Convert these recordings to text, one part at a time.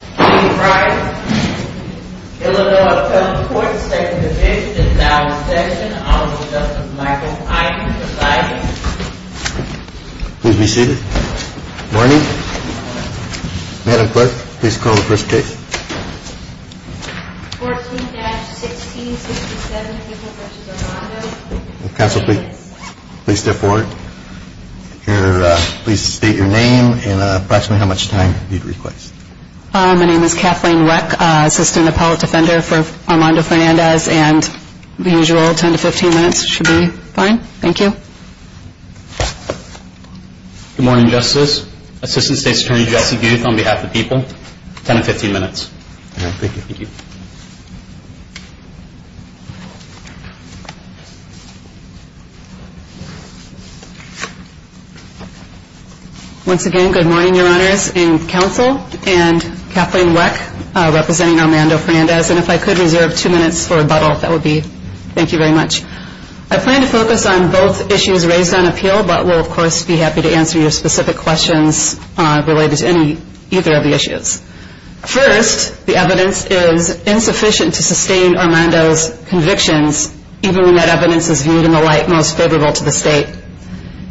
Dean Fryer, Illinois Appellate Court, 2nd Division, Inbound Session. Honorable Justice Michael Eichmann presiding. Please be seated. Morning. Madam Clerk, please call the first case. 14-1667, Mitchell v. Armando. Counsel, please step forward. Please state your name and approximately how much time you'd request. My name is Kathleen Reck, Assistant Appellate Defender for Armando Fernandez and the usual 10-15 minutes should be fine. Thank you. Good morning, Justice. Assistant State's Attorney Jesse Gouth on behalf of the people. 10-15 minutes. Thank you. Once again, good morning, Your Honors. Counsel and Kathleen Reck representing Armando Fernandez. And if I could reserve two minutes for rebuttal, that would be. Thank you very much. I plan to focus on both issues raised on appeal, but will of course be happy to answer your specific questions related to either of the issues. First, the evidence is insufficient to sustain Armando's convictions, even when that evidence is viewed in the light most favorable to the State.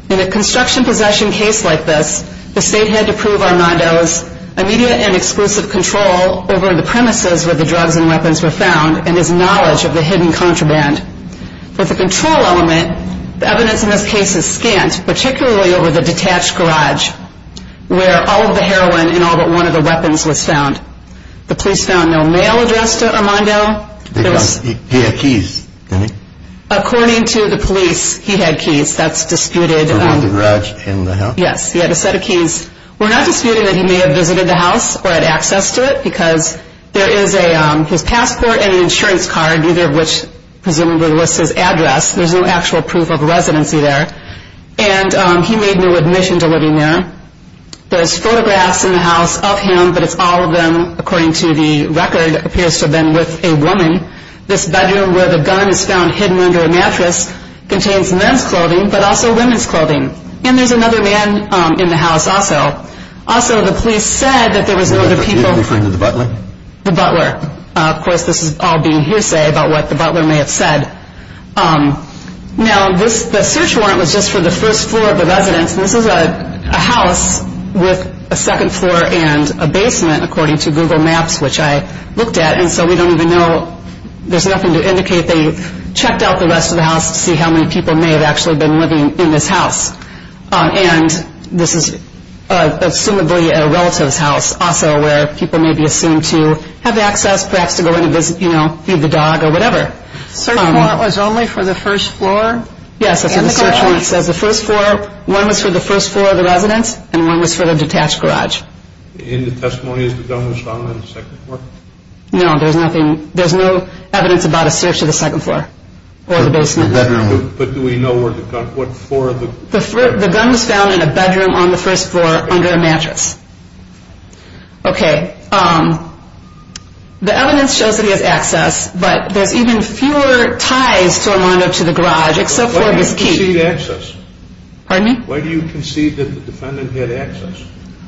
In a construction possession case like this, the State had to prove Armando's immediate and exclusive control over the premises where the drugs and weapons were found and his knowledge of the hidden contraband. With the control element, the evidence in this case is scant, particularly over the detached garage where all of the heroin and all but one of the weapons was found. The police found no mail address to Armando. He had keys, didn't he? According to the police, he had keys. That's disputed. Around the garage in the house? Yes. He had a set of keys. We're not disputing that he may have visited the house or had access to it because there is his passport and an insurance card, neither of which presumably lists his address. There's no actual proof of residency there. And he made no admission to living there. There's photographs in the house of him, but it's all of them, according to the record, appears to have been with a woman. This bedroom where the gun is found hidden under a mattress contains men's clothing, but also women's clothing. And there's another man in the house also. Also, the police said that there was no other people. You're referring to the butler? The butler. Of course, this is all being hearsay about what the butler may have said. Now, the search warrant was just for the first floor of the residence. This is a house with a second floor and a basement, according to Google Maps, which I looked at. And so we don't even know. There's nothing to indicate. They checked out the rest of the house to see how many people may have actually been living in this house. And this is assumably a relative's house, also, where people may be assumed to have access, perhaps to go in and visit, you know, feed the dog or whatever. The search warrant was only for the first floor? Yes, that's what the search warrant says. One was for the first floor of the residence, and one was for the detached garage. And the testimony is the gun was found on the second floor? No, there's no evidence about a search of the second floor or the basement. But do we know where the gun was found? The gun was found in a bedroom on the first floor under a mattress. Okay, the evidence shows that he has access, but there's even fewer ties to Armando to the garage except for his key. Why do you concede access? Pardon me? Why do you concede that the defendant had access?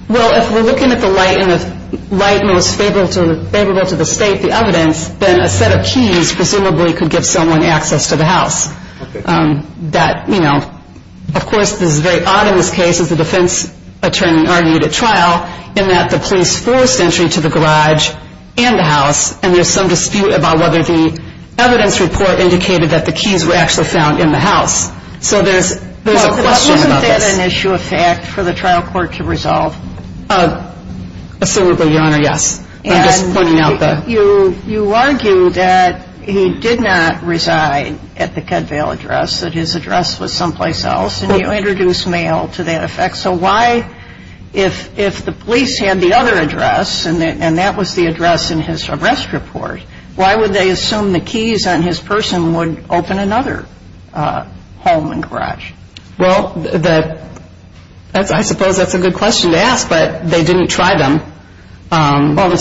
Well, if we're looking at the light and the light was favorable to the state, the evidence, then a set of keys presumably could give someone access to the house. That, you know, of course, this is very odd in this case, as the defense attorney argued at trial, in that the police forced entry to the garage and the house, and there's some dispute about whether the evidence report indicated that the keys were actually found in the house. So there's a question about this. Wasn't that an issue of fact for the trial court to resolve? Assumably, Your Honor, yes. You argue that he did not reside at the Kedvale address, that his address was someplace else, and you introduce mail to that effect. So why, if the police had the other address, and that was the address in his arrest report, why would they assume the keys on his person would open another home and garage? Well, I suppose that's a good question to ask, but they didn't try them. Well, do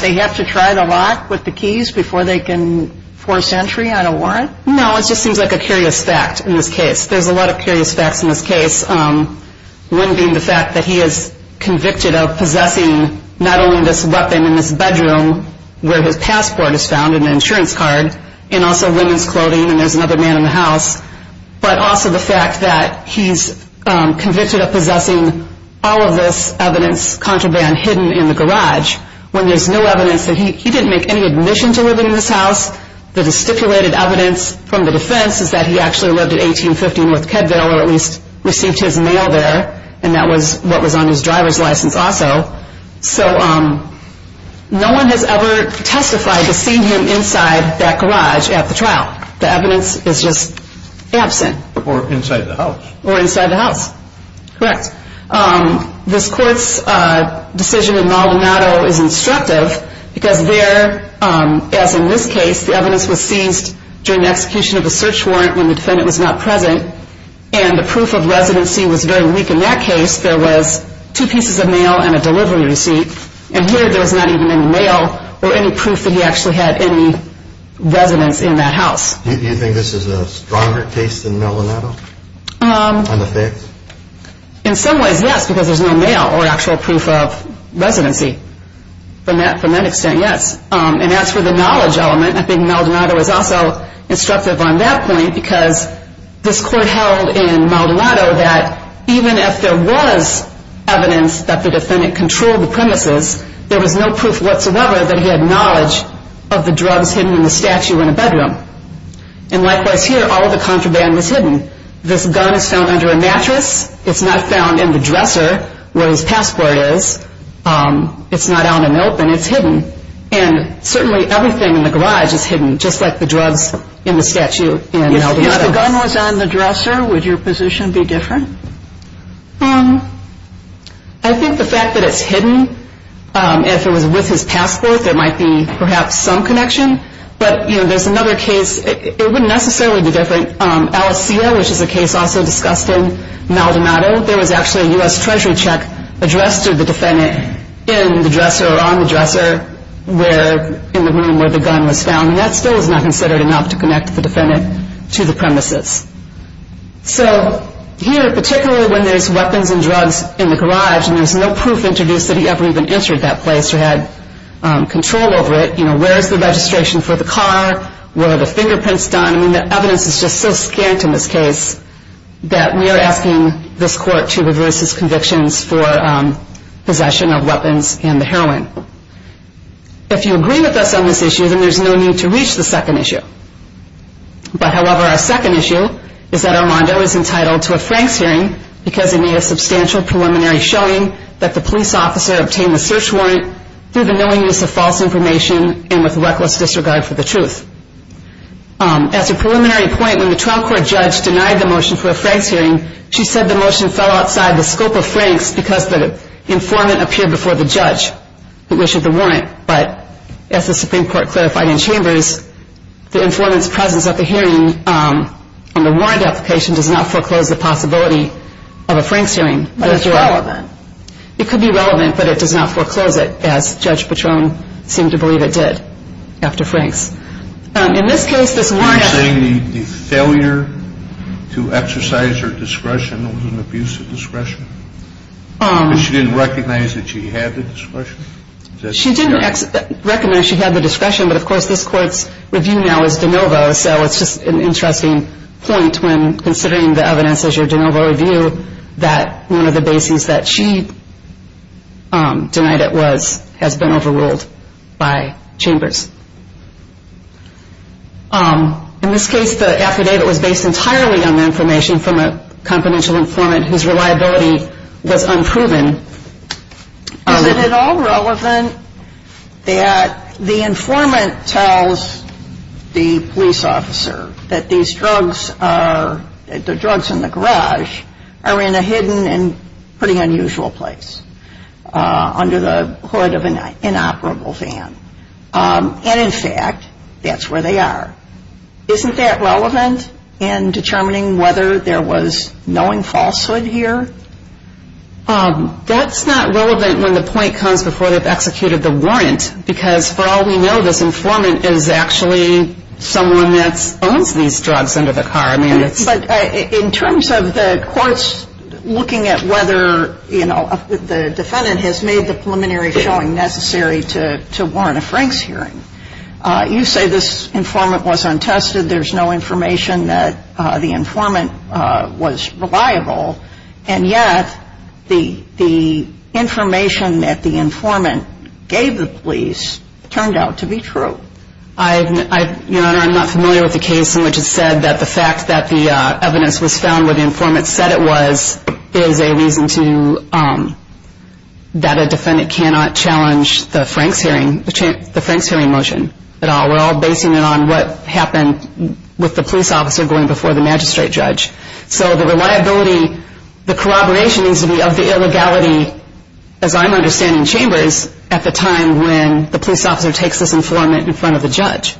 they have to try the lock with the keys before they can force entry on a warrant? No, it just seems like a curious fact in this case. There's a lot of curious facts in this case, one being the fact that he is convicted of possessing not only this weapon in this bedroom where his passport is found and an insurance card, and also women's clothing, and there's another man in the house, but also the fact that he's convicted of possessing all of this evidence contraband hidden in the garage when there's no evidence that he didn't make any admission to living in this house. The stipulated evidence from the defense is that he actually lived in 1850 North Kedvale or at least received his mail there, and that was what was on his driver's license also. So no one has ever testified to seeing him inside that garage at the trial. The evidence is just absent. Or inside the house. Or inside the house, correct. This court's decision in Maldonado is instructive because there, as in this case, the evidence was seized during the execution of a search warrant when the defendant was not present, and the proof of residency was very weak in that case. There was two pieces of mail and a delivery receipt, and here there was not even any mail or any proof that he actually had any residence in that house. Do you think this is a stronger case than Maldonado? In some ways, yes, because there's no mail or actual proof of residency. From that extent, yes. And as for the knowledge element, I think Maldonado is also instructive on that point because this court held in Maldonado that even if there was evidence that the defendant controlled the premises, there was no proof whatsoever that he had knowledge of the drugs hidden in the statue in the bedroom. And likewise here, all of the contraband was hidden. This gun is found under a mattress. It's not found in the dresser where his passport is. It's not on an open. It's hidden. And certainly everything in the garage is hidden, just like the drugs in the statue in Maldonado. If the gun was on the dresser, would your position be different? I think the fact that it's hidden, if it was with his passport, there might be perhaps some connection. But there's another case. It wouldn't necessarily be different. Alicia, which is a case also discussed in Maldonado, there was actually a U.S. Treasury check addressed to the defendant in the dresser or on the dresser in the room where the gun was found, and that still is not considered enough to connect the defendant to the premises. So here, particularly when there's weapons and drugs in the garage and there's no proof introduced that he ever even entered that place or had control over it, where is the registration for the car? Were the fingerprints done? I mean, the evidence is just so scant in this case that we are asking this court to reverse its convictions for possession of weapons and the heroin. If you agree with us on this issue, then there's no need to reach the second issue. But, however, our second issue is that Armando is entitled to a Franks hearing because it made a substantial preliminary showing that the police officer obtained the search warrant through the knowingness of false information and with reckless disregard for the truth. As a preliminary point, when the trial court judge denied the motion for a Franks hearing, she said the motion fell outside the scope of Franks because the informant appeared before the judge, who issued the warrant. But as the Supreme Court clarified in Chambers, the informant's presence at the hearing on the warrant application does not foreclose the possibility of a Franks hearing. But it's relevant. It could be relevant, but it does not foreclose it, as Judge Patron seemed to believe it did after Franks. In this case, this warrant... Are you saying the failure to exercise her discretion was an abuse of discretion? Because she didn't recognize that she had the discretion? She didn't recognize she had the discretion, but, of course, this court's review now is de novo, so it's just an interesting point when considering the evidence as your de novo review that one of the bases that she denied it was has been overruled by Chambers. In this case, the affidavit was based entirely on the information from a confidential informant whose reliability was unproven. Is it at all relevant that the informant tells the police officer that the drugs in the garage are in a hidden and pretty unusual place under the hood of an inoperable van, and, in fact, that's where they are? Isn't that relevant in determining whether there was knowing falsehood here? That's not relevant when the point comes before they've executed the warrant, because, for all we know, this informant is actually someone that owns these drugs under the car. But in terms of the courts looking at whether the defendant has made the preliminary showing necessary to warrant a Franks hearing, you say this informant was untested, there's no information that the informant was reliable, and yet the information that the informant gave the police turned out to be true. Your Honor, I'm not familiar with the case in which it's said that the fact that the evidence was found where the informant said it was is a reason that a defendant cannot challenge the Franks hearing motion at all. We're all basing it on what happened with the police officer going before the magistrate judge. So the reliability, the corroboration needs to be of the illegality, as I'm understanding Chambers, at the time when the police officer takes this informant in front of the judge.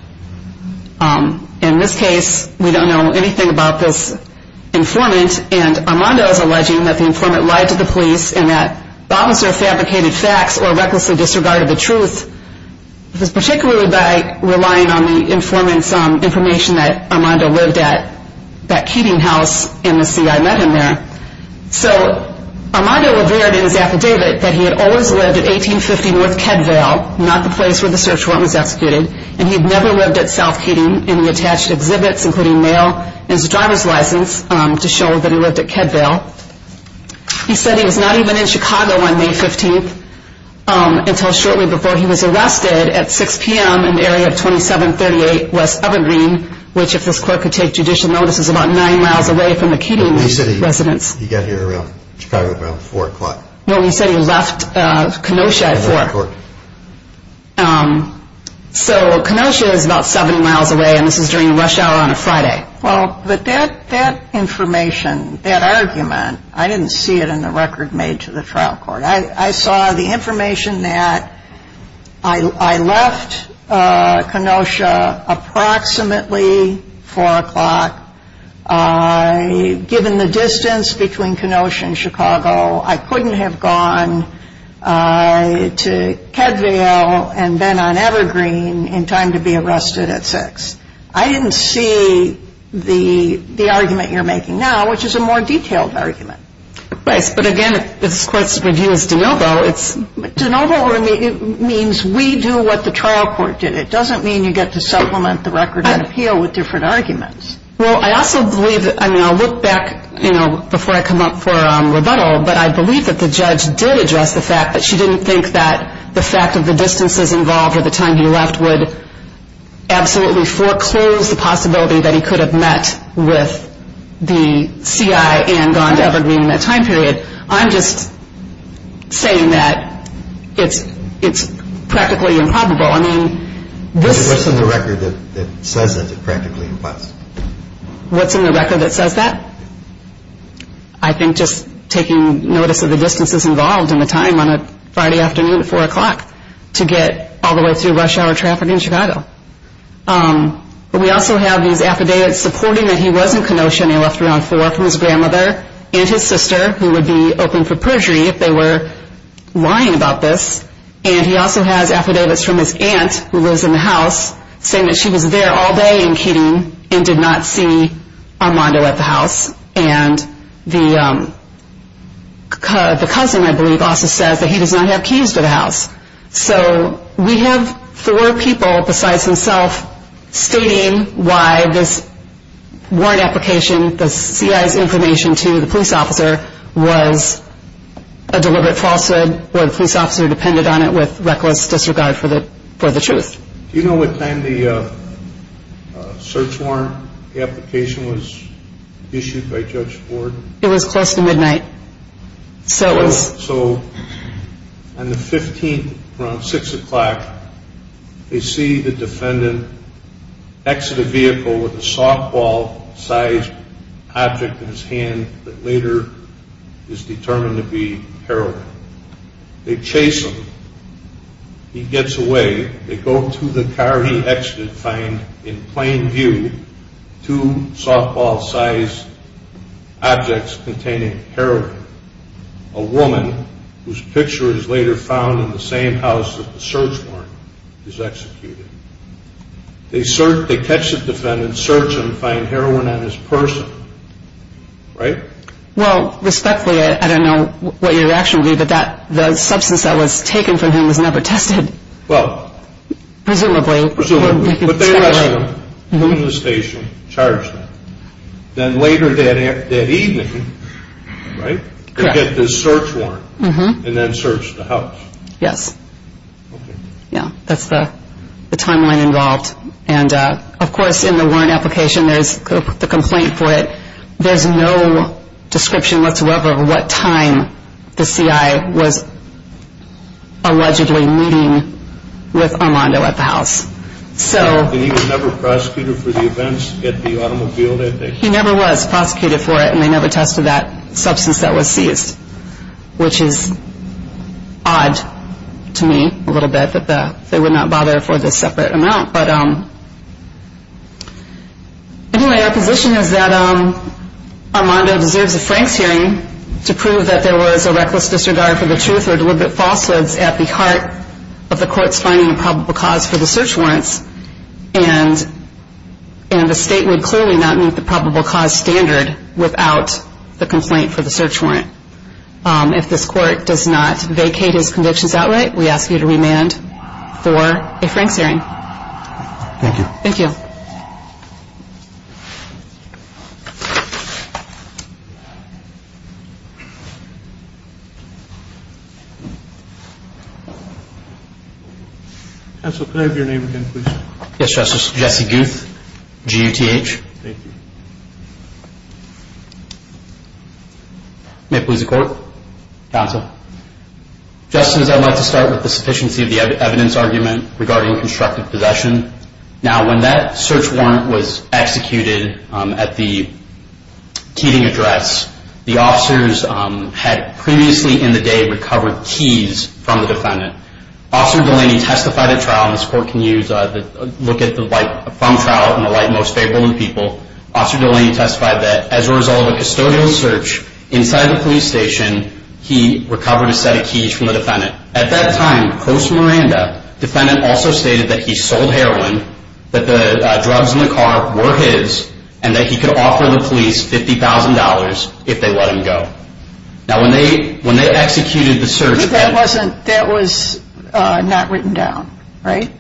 In this case, we don't know anything about this informant, and Armando is alleging that the informant lied to the police and that the officer fabricated facts or recklessly disregarded the truth, particularly by relying on the informant's information that Armando lived at, that Keating House, and the CI met him there. So Armando revered in his affidavit that he had always lived at 1850 North Kedvale, not the place where the search warrant was executed, and he had never lived at South Keating in the attached exhibits, including mail and his driver's license, to show that he lived at Kedvale. He said he was not even in Chicago on May 15th until shortly before he was arrested at 6 p.m. in the area of 2738 West Evergreen, which if this court could take judicial notice, is about nine miles away from the Keating residence. He said he got here around Chicago at around 4 o'clock. No, he said he left Kenosha at 4 o'clock. So Kenosha is about seven miles away, and this is during a rush hour on a Friday. Well, but that information, that argument, I didn't see it in the record made to the trial court. I saw the information that I left Kenosha approximately 4 o'clock. Given the distance between Kenosha and Chicago, I couldn't have gone to Kedvale and then on Evergreen in time to be arrested at 6. I didn't see the argument you're making now, which is a more detailed argument. Right, but again, if this court's review is de novo, it's— De novo means we do what the trial court did. It doesn't mean you get to supplement the record and appeal with different arguments. Well, I also believe—I mean, I'll look back, you know, before I come up for rebuttal, but I believe that the judge did address the fact that she didn't think that the fact of the distances involved or the time he left would absolutely foreclose the possibility that he could have met with the CI and gone to Evergreen in that time period. I'm just saying that it's practically improbable. What's in the record that says that it practically implies? What's in the record that says that? I think just taking notice of the distances involved and the time on a Friday afternoon at 4 o'clock to get all the way through rush hour traffic in Chicago. But we also have these affidavits supporting that he was in Kenosha and he left around 4 from his grandmother and his sister, who would be open for perjury if they were lying about this. And he also has affidavits from his aunt, who lives in the house, saying that she was there all day in Keating and did not see Armando at the house. And the cousin, I believe, also says that he does not have keys to the house. So we have four people besides himself stating why this warrant application, the CI's information to the police officer, was a deliberate falsehood where the police officer depended on it with reckless disregard for the truth. Do you know what time the search warrant application was issued by Judge Ford? It was close to midnight. So on the 15th around 6 o'clock, they see the defendant exit a vehicle with a softball-sized object in his hand that later is determined to be heroin. They chase him. He gets away. They go to the car he exited and find, in plain view, two softball-sized objects containing heroin. A woman, whose picture is later found in the same house that the search warrant is executed. They search, they catch the defendant, search him, find heroin on his person. Right? Well, respectfully, I don't know what your reaction would be, but the substance that was taken from him was never tested. Well. Presumably. Presumably. But they arrest him, put him in the station, charge him. Then later that evening, right? Correct. They get the search warrant and then search the house. Yes. Okay. Yeah. That's the timeline involved. And, of course, in the warrant application, there's the complaint for it. There's no description whatsoever of what time the CI was allegedly meeting with Armando at the house. So. And he was never prosecuted for the events at the automobile, I think? He never was prosecuted for it, and they never tested that substance that was seized, which is odd to me, a little bit, that they would not bother for this separate amount. But anyway, our position is that Armando deserves a Franks hearing to prove that there was a reckless disregard for the truth or deliberate falsehoods at the heart of the court's finding of probable cause for the search warrants, and the state would clearly not meet the probable cause standard without the complaint for the search warrant. If this court does not vacate his convictions outright, we ask you to remand for a Franks hearing. Thank you. Thank you. Counsel, can I have your name again, please? Yes, Justice. Jesse Gouth, G-U-T-H. Thank you. May it please the Court. Counsel. Justice, I'd like to start with the sufficiency of the evidence argument regarding constructive possession. Now, when that search warrant was executed at the teething address, the officers had previously in the day recovered keys from the defendant. Officer Delaney testified at trial, and this court can look at the light from trial and the light most favorable in people. Officer Delaney testified that as a result of a custodial search inside the police station, he recovered a set of keys from the defendant. At that time, close to Miranda, the defendant also stated that he sold heroin, that the drugs in the car were his, and that he could offer the police $50,000 if they let him go. Now, when they executed the search... But that was not written down, right?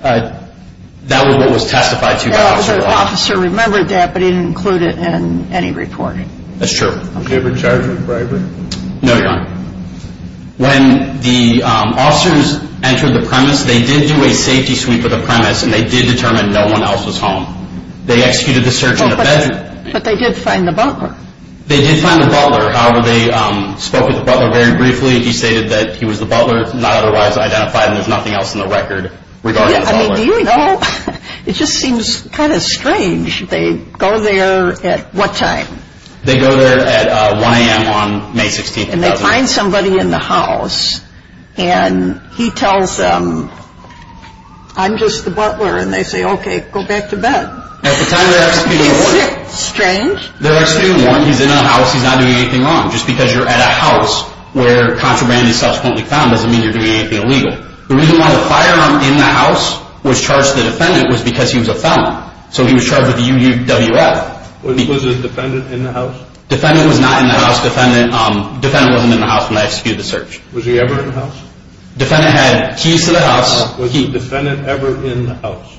That was what was testified to by Officer Delaney. The officer remembered that, but he didn't include it in any report. That's true. Did he ever charge a bribery? No, Your Honor. When the officers entered the premise, they did do a safety sweep of the premise, and they did determine no one else was home. They executed the search in the bedroom. But they did find the butler. They did find the butler. However, they spoke with the butler very briefly. He stated that he was the butler, not otherwise identified, and there's nothing else in the record regarding the butler. I mean, do you know? It just seems kind of strange. They go there at what time? They go there at 1 a.m. on May 16, 2000. And they find somebody in the house, and he tells them, I'm just the butler, and they say, okay, go back to bed. At the time they're executing the warrant. Strange. They're executing the warrant. He's in the house. He's not doing anything wrong. Just because you're at a house where contraband is subsequently found doesn't mean you're doing anything illegal. The reason why the firearm in the house was charged to the defendant was because he was a felon. So he was charged with UUWF. Was the defendant in the house? Defendant was not in the house. Defendant wasn't in the house when they executed the search. Was he ever in the house? Defendant had keys to the house. Was the defendant ever in the house?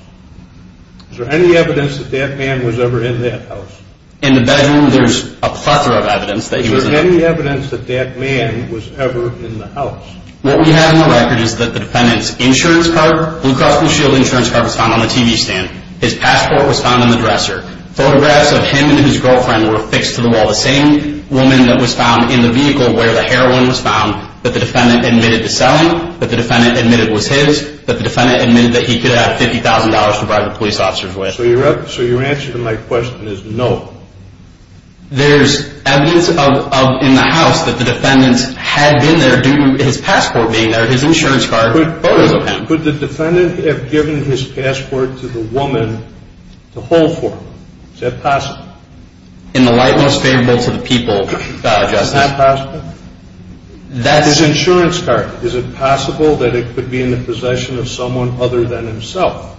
Is there any evidence that that man was ever in that house? In the bedroom, there's a plethora of evidence that he was in that house. Is there any evidence that that man was ever in the house? What we have in the record is that the defendant's insurance card, Blue Cross Blue Shield insurance card, was found on the TV stand. His passport was found in the dresser. Photographs of him and his girlfriend were affixed to the wall. The same woman that was found in the vehicle where the heroin was found, that the defendant admitted to selling, that the defendant admitted was his, that the defendant admitted that he could have $50,000 to bribe the police officers with. So your answer to my question is no. There's evidence in the house that the defendant had been there due to his passport being there, his insurance card, photos of him. Could the defendant have given his passport to the woman to hold for him? Is that possible? In the light most favorable to the people, Your Honor. Is that possible? That's... His insurance card. Is it possible that it could be in the possession of someone other than himself?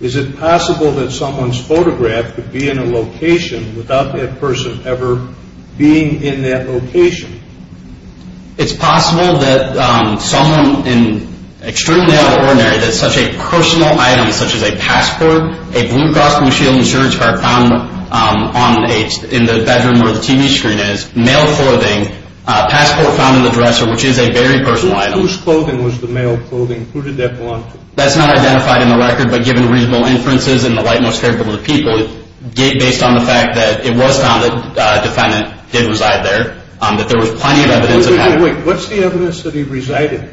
Is it possible that someone's photograph could be in a location without that person ever being in that location? It's possible that someone in extremely out of the ordinary, that such a personal item such as a passport, a Blue Cross Blue Shield insurance card found in the bedroom where the TV screen is, mail clothing, passport found in the dresser, which is a very personal item. Whose clothing was the mail clothing? Who did that belong to? That's not identified in the record, but given reasonable inferences in the light most favorable to the people, based on the fact that it was found that the defendant did reside there, that there was plenty of evidence of that. Wait, what's the evidence that he resided?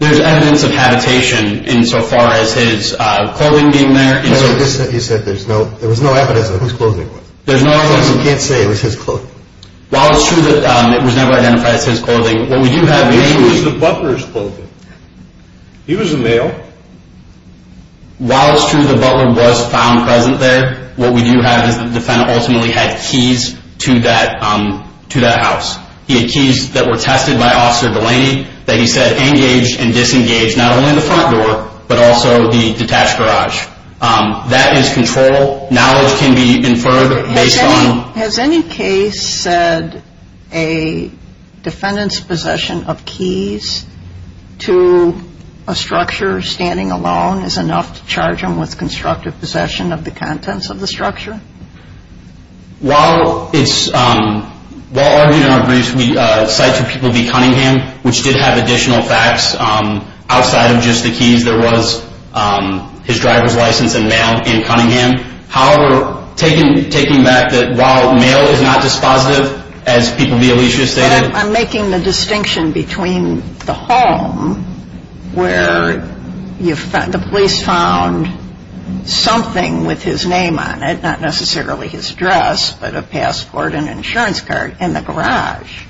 There's evidence of habitation insofar as his clothing being there. You said there was no evidence of whose clothing it was. There's no evidence. You can't say it was his clothing. While it's true that it was never identified as his clothing, what we do have mainly... It was the butler's clothing. He was a male. While it's true the butler was found present there, what we do have is the defendant ultimately had keys to that house. He had keys that were tested by Officer Delaney that he said engaged and disengaged, not only in the front door, but also the detached garage. That is control. Knowledge can be inferred based on... Has any case said a defendant's possession of keys to a structure standing alone is enough to charge him with constructive possession of the contents of the structure? While argued in our briefs, we cite to people v. Cunningham, which did have additional facts outside of just the keys. There was his driver's license and mail in Cunningham. However, taking back that while mail is not dispositive, as people v. Alicia stated... I'm making the distinction between the home where the police found something with his name on it, not necessarily his dress, but a passport, an insurance card, and the garage.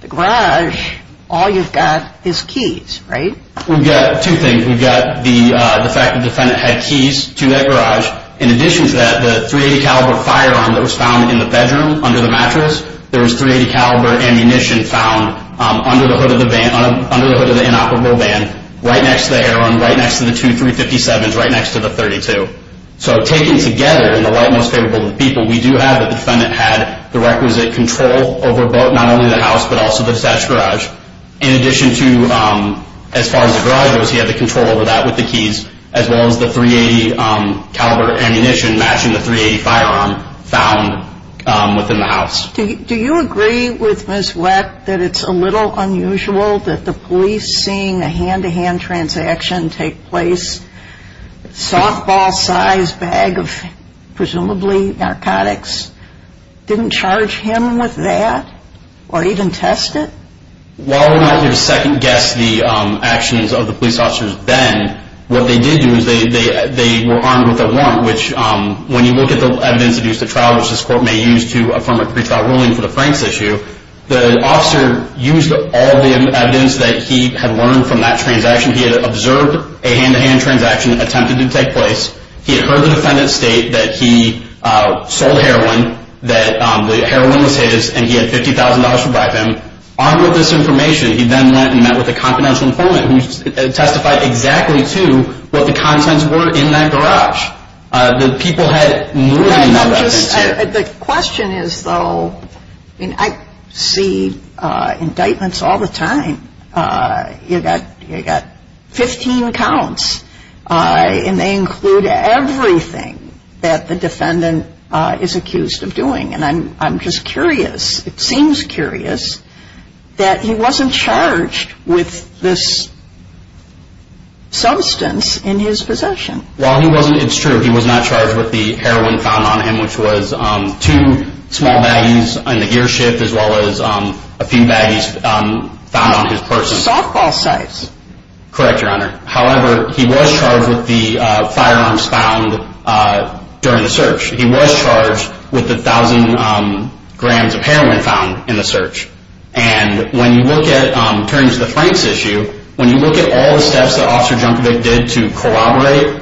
The garage, all you've got is keys, right? We've got two things. We've got the fact the defendant had keys to that garage. In addition to that, the .380 caliber firearm that was found in the bedroom under the mattress, there was .380 caliber ammunition found under the hood of the inoperable van, right next to the air arm, right next to the two .357s, right next to the .32. So taken together, in the light most favorable to the people, we do have that the defendant had the requisite control over both, not only the house, but also the detached garage. In addition to, as far as the garage goes, he had the control over that with the keys, as well as the .380 caliber ammunition matching the .380 firearm found within the house. Do you agree with Ms. Wett that it's a little unusual that the police, seeing a hand-to-hand transaction take place, softball-sized bag of presumably narcotics, didn't charge him with that or even test it? While we're not here to second-guess the actions of the police officers then, what they did do is they were armed with a warrant, which when you look at the evidence used at trial, which this court may use to affirm a pretrial ruling for the Franks issue, the officer used all the evidence that he had learned from that transaction. He had observed a hand-to-hand transaction attempted to take place. He had heard the defendant state that he sold heroin, that the heroin was his, and he had $50,000 to bribe him. Armed with this information, he then went and met with a confidential informant who testified exactly to what the contents were in that garage. The people had no evidence. The question is, though, I see indictments all the time. You've got 15 counts, and they include everything that the defendant is accused of doing. And I'm just curious, it seems curious, that he wasn't charged with this substance in his possession. While he wasn't, it's true, he was not charged with the heroin found on him, which was two small baggies in the gear shift as well as a few baggies found on his purse. Softball size. Correct, Your Honor. However, he was charged with the firearms found during the search. He was charged with the 1,000 grams of heroin found in the search. And when you look at, turning to the Franks issue, when you look at all the steps that Officer Junkovic did to corroborate,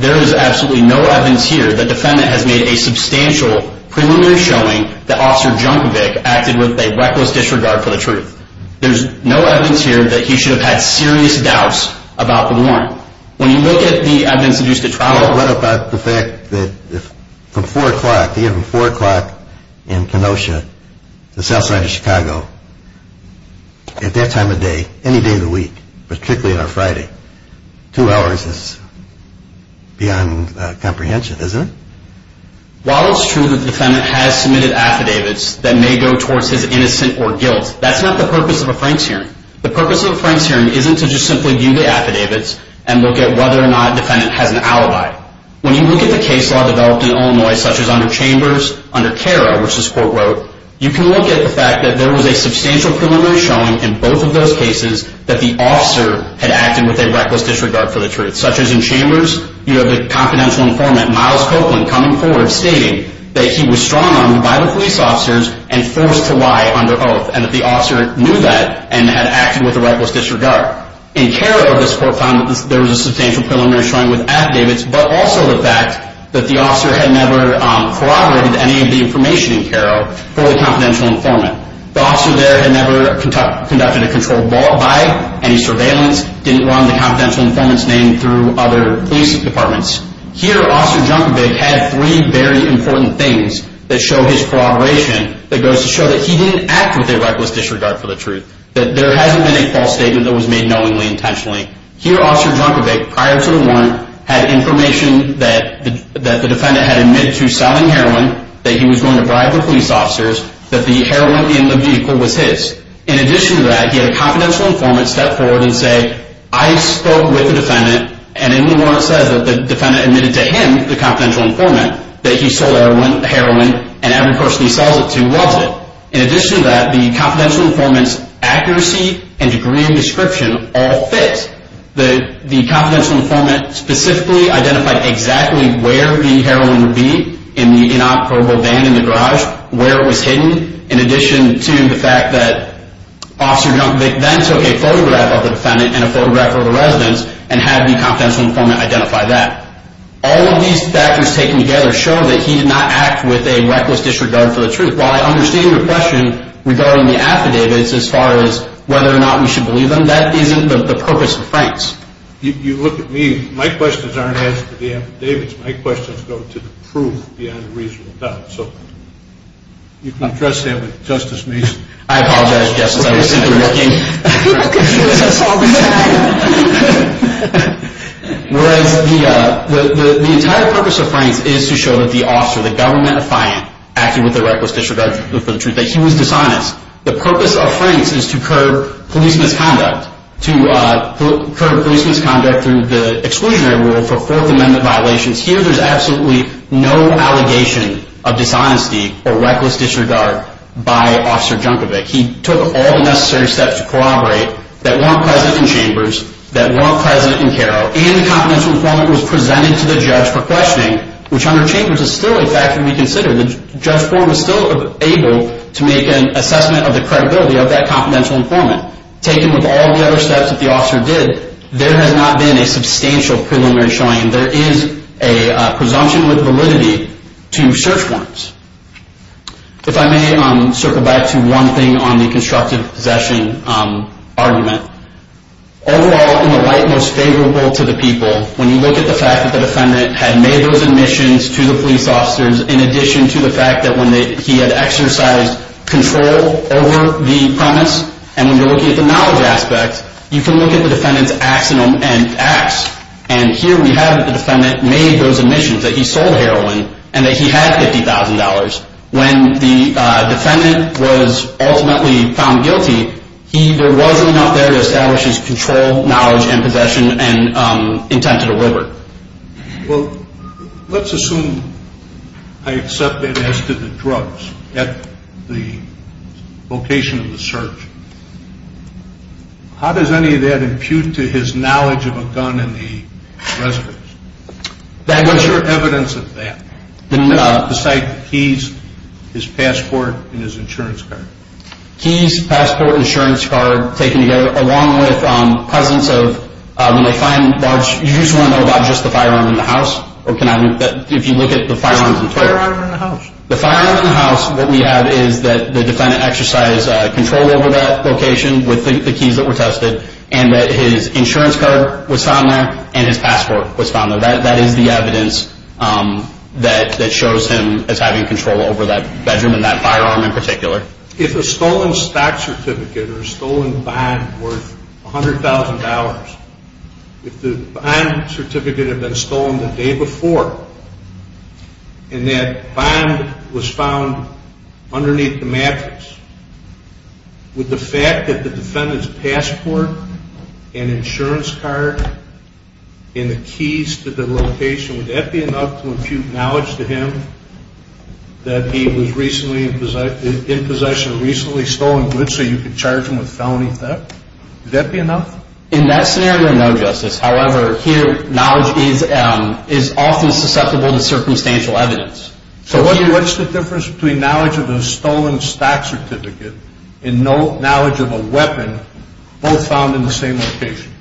there is absolutely no evidence here that the defendant has made a substantial preliminary showing that Officer Junkovic acted with a reckless disregard for the truth. There's no evidence here that he should have had serious doubts about the warrant. When you look at the evidence induced at trial. What about the fact that from 4 o'clock in Kenosha to South Side of Chicago, at that time of day, any day of the week, particularly on a Friday, two hours is beyond comprehension, isn't it? While it's true that the defendant has submitted affidavits that may go towards his innocent or guilt, that's not the purpose of a Franks hearing. The purpose of a Franks hearing isn't to just simply view the affidavits and look at whether or not the defendant has an alibi. When you look at the case law developed in Illinois, such as under Chambers, under CARA, which this court wrote, you can look at the fact that there was a substantial preliminary showing in both of those cases that the officer had acted with a reckless disregard for the truth. Such as in Chambers, you have a confidential informant, Myles Copeland, coming forward stating that he was strung on by the police officers and forced to lie under oath and that the officer knew that and had acted with a reckless disregard. In CARA, this court found that there was a substantial preliminary showing with affidavits, but also the fact that the officer had never corroborated any of the information in CARA for the confidential informant. The officer there had never conducted a controlled ball by any surveillance, didn't run the confidential informant's name through other police departments. Here, Officer Junkovic had three very important things that show his corroboration that goes to show that he didn't act with a reckless disregard for the truth, Here, Officer Junkovic, prior to the warrant, had information that the defendant had admitted to selling heroin, that he was going to bribe the police officers, that the heroin in the vehicle was his. In addition to that, he had a confidential informant step forward and say, I spoke with the defendant, and in the warrant it says that the defendant admitted to him, the confidential informant, that he sold heroin, and every person he sells it to loves it. In addition to that, the confidential informant's accuracy and degree of description all fit. The confidential informant specifically identified exactly where the heroin would be in the inoperable van in the garage, where it was hidden, in addition to the fact that Officer Junkovic then took a photograph of the defendant and a photograph of the residence, and had the confidential informant identify that. All of these factors taken together show that he did not act with a reckless disregard for the truth. While I understand your question regarding the affidavits, as far as whether or not we should believe them, that isn't the purpose of the Franks. You look at me, my questions aren't asked for the affidavits, my questions go to the proof beyond a reasonable doubt. So, you can address that with Justice Mason. I apologize, Justice, I was simply looking. Okay, that's all we have. Whereas, the entire purpose of Franks is to show that the officer, the government affiant, acted with a reckless disregard for the truth, that he was dishonest. The purpose of Franks is to curb police misconduct, to curb police misconduct through the exclusionary rule for Fourth Amendment violations. Here, there's absolutely no allegation of dishonesty or reckless disregard by Officer Junkovic. He took all the necessary steps to corroborate that weren't present in Chambers, that weren't present in Caro, and the confidential informant was presented to the judge for questioning, which under Chambers is still a fact to reconsider. The judge form is still able to make an assessment of the credibility of that confidential informant. Taken with all the other steps that the officer did, there has not been a substantial preliminary showing. There is a presumption with validity to search warrants. If I may circle back to one thing on the constructive possession argument. Overall, in the light most favorable to the people, when you look at the fact that the defendant had made those admissions to the police officers, in addition to the fact that he had exercised control over the premise, and when you're looking at the knowledge aspect, you can look at the defendant's acts, and here we have the defendant made those admissions that he sold heroin, and that he had $50,000. When the defendant was ultimately found guilty, there was enough there to establish his control, knowledge, and possession, and intent to deliver. Well, let's assume I accept that as to the drugs at the location of the search. How does any of that impute to his knowledge of a gun in the residence? What's your evidence of that? The site, the keys, his passport, and his insurance card. Keys, passport, and insurance card taken together, along with presence of, when they find large, you just want to know about just the firearm in the house, or can I move that if you look at the firearms in the house? The firearm in the house. The firearm in the house, what we have is that the defendant exercised control over that location with the keys that were tested, and that his insurance card was found there, and his passport was found there. That is the evidence that shows him as having control over that bedroom and that firearm in particular. If a stolen stock certificate or a stolen bond worth $100,000, if the bond certificate had been stolen the day before, and that bond was found underneath the mattress, would the fact that the defendant's passport and insurance card and the keys to the location, would that be enough to impute knowledge to him that he was recently in possession of recently stolen goods so you could charge him with felony theft? Would that be enough? In that scenario, no, Justice. However, here, knowledge is often susceptible to circumstantial evidence. So what's the difference between knowledge of a stolen stock certificate and knowledge of a weapon both found in the same location?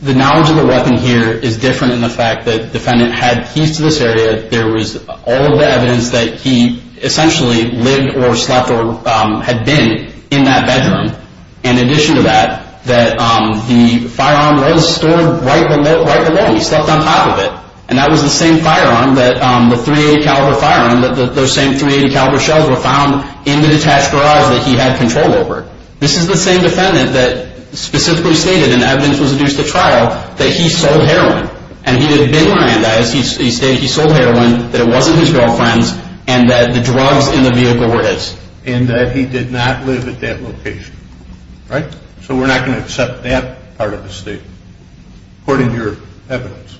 The knowledge of a weapon here is different in the fact that the defendant had keys to this area. There was all of the evidence that he essentially lived or slept or had been in that bedroom. In addition to that, the firearm was stored right below, right below. He slept on top of it. And that was the same firearm, the .380 caliber firearm, that those same .380 caliber shells were found in the detached garage that he had control over. This is the same defendant that specifically stated, and evidence was adduced at trial, that he sold heroin. And he had been lying to us. He stated he sold heroin, that it wasn't his girlfriend's, and that the drugs in the vehicle were his. And that he did not live at that location, right? So we're not going to accept that part of the statement, according to your evidence.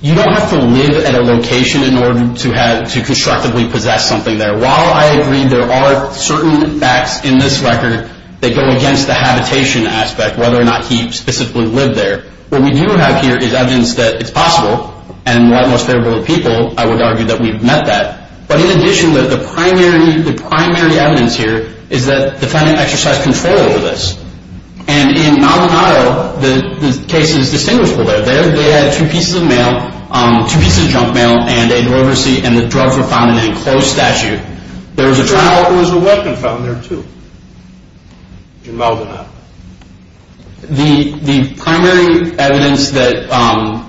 You don't have to live at a location in order to constructively possess something there. While I agree there are certain facts in this record that go against the habitation aspect, whether or not he specifically lived there, what we do have here is evidence that it's possible, and what most favorable people, I would argue, that we've met that. But in addition, the primary evidence here is that the defendant exercised control over this. And in Maldonado, the case is distinguishable there. They had two pieces of mail, two pieces of junk mail, and the drugs were found in an enclosed statute. There was a weapon found there, too, in Maldonado. The primary evidence that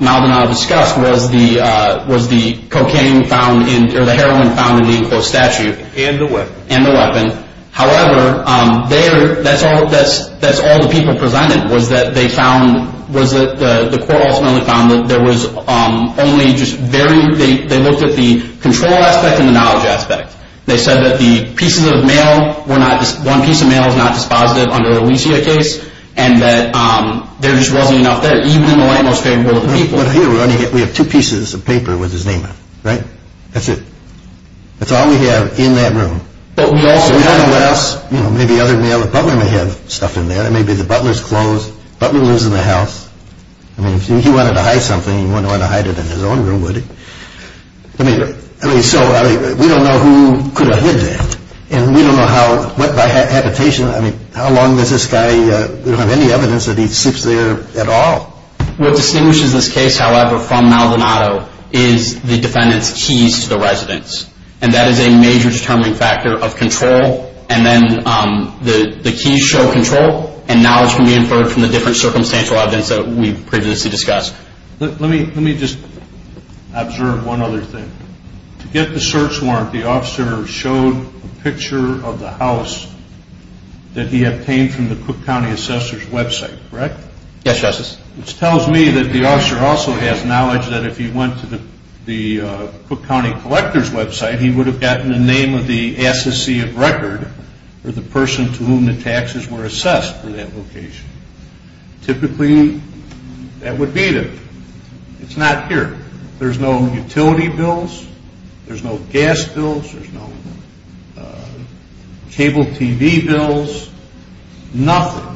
Maldonado discussed was the cocaine found in, or the heroin found in the enclosed statute. And the weapon. And the weapon. However, that's all the people presented was that they found, was that the court ultimately found that there was only just very, they looked at the control aspect and the knowledge aspect. They said that the pieces of mail were not, one piece of mail was not dispositive under the Alicia case, and that there just wasn't enough there, even in the light most favorable of the people. But here we have two pieces of paper with his name on it, right? That's it. That's all we have in that room. But we also have. We don't know what else. You know, maybe other mail. The butler may have stuff in there. Maybe the butler's clothes. The butler lives in the house. I mean, if he wanted to hide something, he wouldn't want to hide it in his own room, would he? I mean, so we don't know who could have hid that. And we don't know how, what by habitation, I mean, how long does this guy have any evidence that he sleeps there at all? What distinguishes this case, however, from Maldonado is the defendant's keys to the residence. And that is a major determining factor of control. And then the keys show control. And knowledge can be inferred from the different circumstantial evidence that we previously discussed. Let me just observe one other thing. To get the search warrant, the officer showed a picture of the house that he obtained from the Cook County Assessor's website, correct? Yes, Justice. Which tells me that the officer also has knowledge that if he went to the Cook County Collector's website, he would have gotten the name of the associate record or the person to whom the taxes were assessed for that location. Typically, that would be them. It's not here. There's no utility bills. There's no gas bills. There's no cable TV bills. Nothing.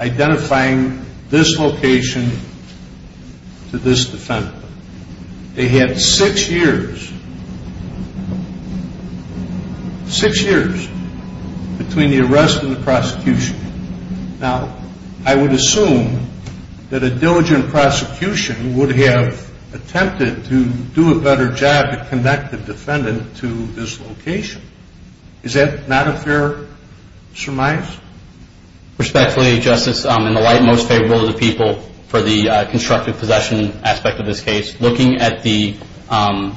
Identifying this location to this defendant. They had six years. Six years between the arrest and the prosecution. Now, I would assume that a diligent prosecution would have attempted to do a better job to connect the defendant to this location. Is that not a fair surmise? Respectfully, Justice, in the light most favorable to the people for the constructive possession aspect of this case, looking at the, while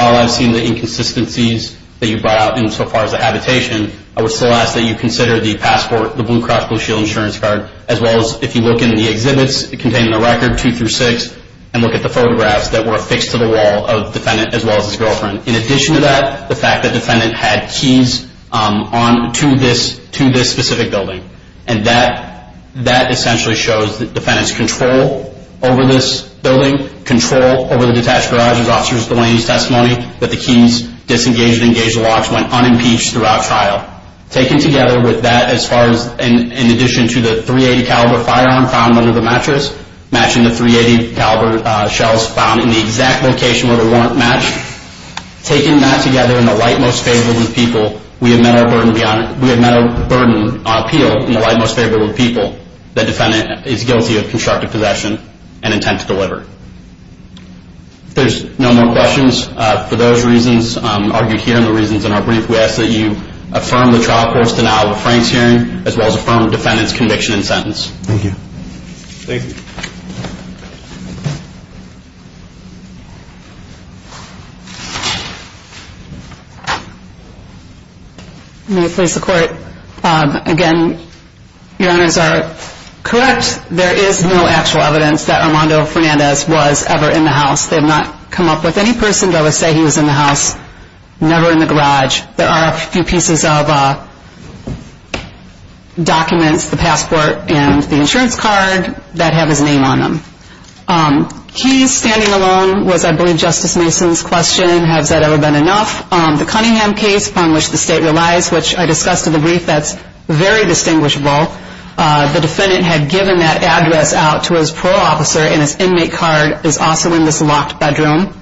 I've seen the inconsistencies that you brought out insofar as the habitation, I would still ask that you consider the passport, the Blue Cross Blue Shield insurance card, as well as if you look in the exhibits containing the record, two through six, and look at the photographs that were affixed to the wall of the defendant as well as his girlfriend. In addition to that, the fact that the defendant had keys to this specific building, and that essentially shows the defendant's control over this building, control over the detached garages, officer's delaying testimony, that the keys disengaged and engaged the locks, went unimpeached throughout trial. Taken together with that, as far as, in addition to the .380 caliber firearm found under the mattress, matching the .380 caliber shells found in the exact location where they weren't matched, taking that together in the light most favorable to the people, we have met our burden on appeal in the light most favorable to the people that the defendant is guilty of constructive possession and intent to deliver. If there's no more questions, for those reasons argued here and the reasons in our brief, we ask that you affirm the trial court's denial of a Frank's hearing, as well as affirm the defendant's conviction and sentence. Thank you. Thank you. May I please support? Again, your honors are correct. There is no actual evidence that Armando Fernandez was ever in the house. They have not come up with any person to ever say he was in the house, never in the garage. There are a few pieces of documents, the passport and the insurance card, that have his name on them. He standing alone was, I believe, Justice Mason's question, has that ever been enough? The Cunningham case, upon which the state relies, which I discussed in the brief, that's very distinguishable. The defendant had given that address out to his parole officer, and his inmate card is also in this locked bedroom,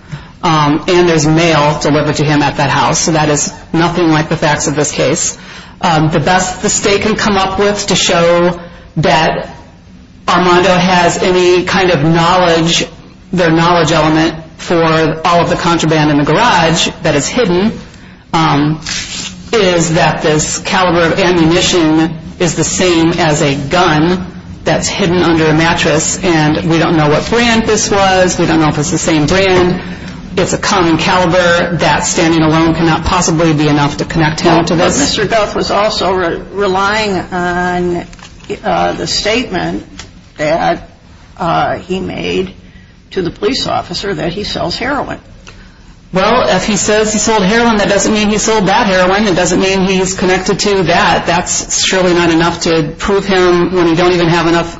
and there's mail delivered to him at that house. So that is nothing like the facts of this case. The best the state can come up with to show that Armando has any kind of knowledge, their knowledge element for all of the contraband in the garage that is hidden, is that this caliber of ammunition is the same as a gun that's hidden under a mattress, and we don't know what brand this was, we don't know if it's the same brand. It's a common caliber that standing alone cannot possibly be enough to connect him to this. But Mr. Duff was also relying on the statement that he made to the police officer that he sells heroin. Well, if he says he sold heroin, that doesn't mean he sold that heroin. It doesn't mean he's connected to that. That's surely not enough to prove him when you don't even have enough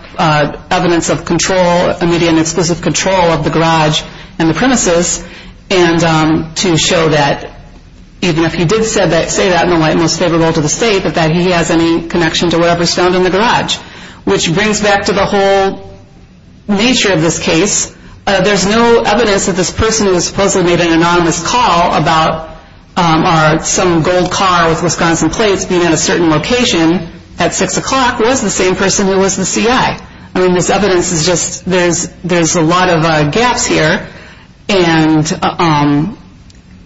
evidence of control, immediate and exclusive control of the garage and the premises, and to show that even if he did say that in the light most favorable to the state, that he has any connection to whatever's found in the garage, which brings back to the whole nature of this case. There's no evidence that this person who supposedly made an anonymous call about some gold car with Wisconsin plates being at a certain location at 6 o'clock was the same person who was the CI. I mean, this evidence is just, there's a lot of gaps here. And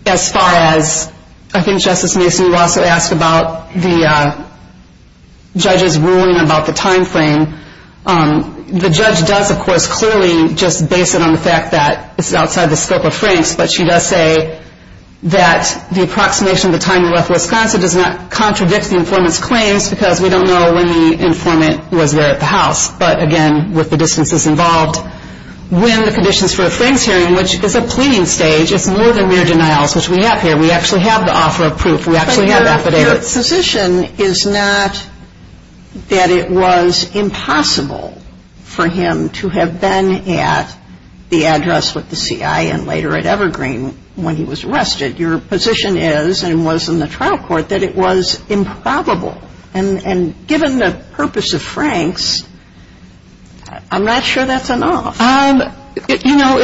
as far as, I think Justice Mason will also ask about the judge's ruling about the time frame. The judge does, of course, clearly just base it on the fact that it's outside the scope of Frank's, but she does say that the approximation of the time he left Wisconsin does not contradict the informant's claims because we don't know when the informant was there at the house. But again, with the distances involved, when the conditions for a Frank's hearing, which is a pleading stage, it's more than mere denials, which we have here. We actually have the offer of proof. We actually have affidavits. But your position is not that it was impossible for him to have been at the address with the CI and later at Evergreen when he was arrested. Your position is, and was in the trial court, that it was improbable. And given the purpose of Frank's, I'm not sure that's enough. You know,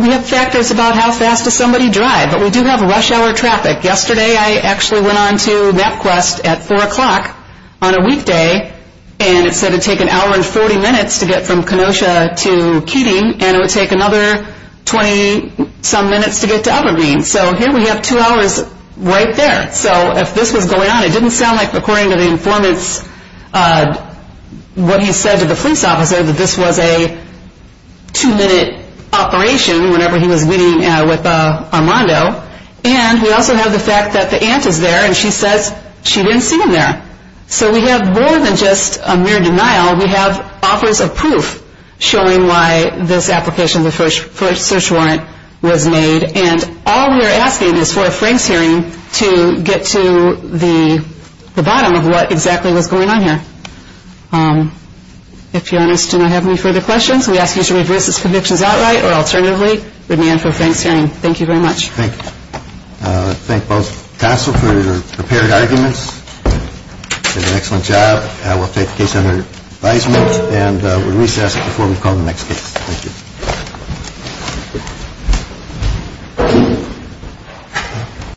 we have factors about how fast does somebody drive. But we do have rush hour traffic. Yesterday I actually went on to MapQuest at 4 o'clock on a weekday, and it said it would take an hour and 40 minutes to get from Kenosha to Keating, and it would take another 20-some minutes to get to Evergreen. So here we have two hours right there. So if this was going on, it didn't sound like, according to the informants, what he said to the police officer, that this was a two-minute operation whenever he was meeting with Armando. And we also have the fact that the aunt is there, and she says she didn't see him there. So we have more than just a mere denial. We have offers of proof showing why this application for a search warrant was made. And all we're asking is for a Frank's hearing to get to the bottom of what exactly was going on here. If you want us to not have any further questions, we ask you to review this conviction outright or alternatively, we'd be in for a Frank's hearing. Thank you very much. Thank you. Thank both counsel for your prepared arguments. You did an excellent job. We'll take the case under advisement, and we'll recess before we call the next case. Thank you. Thank you.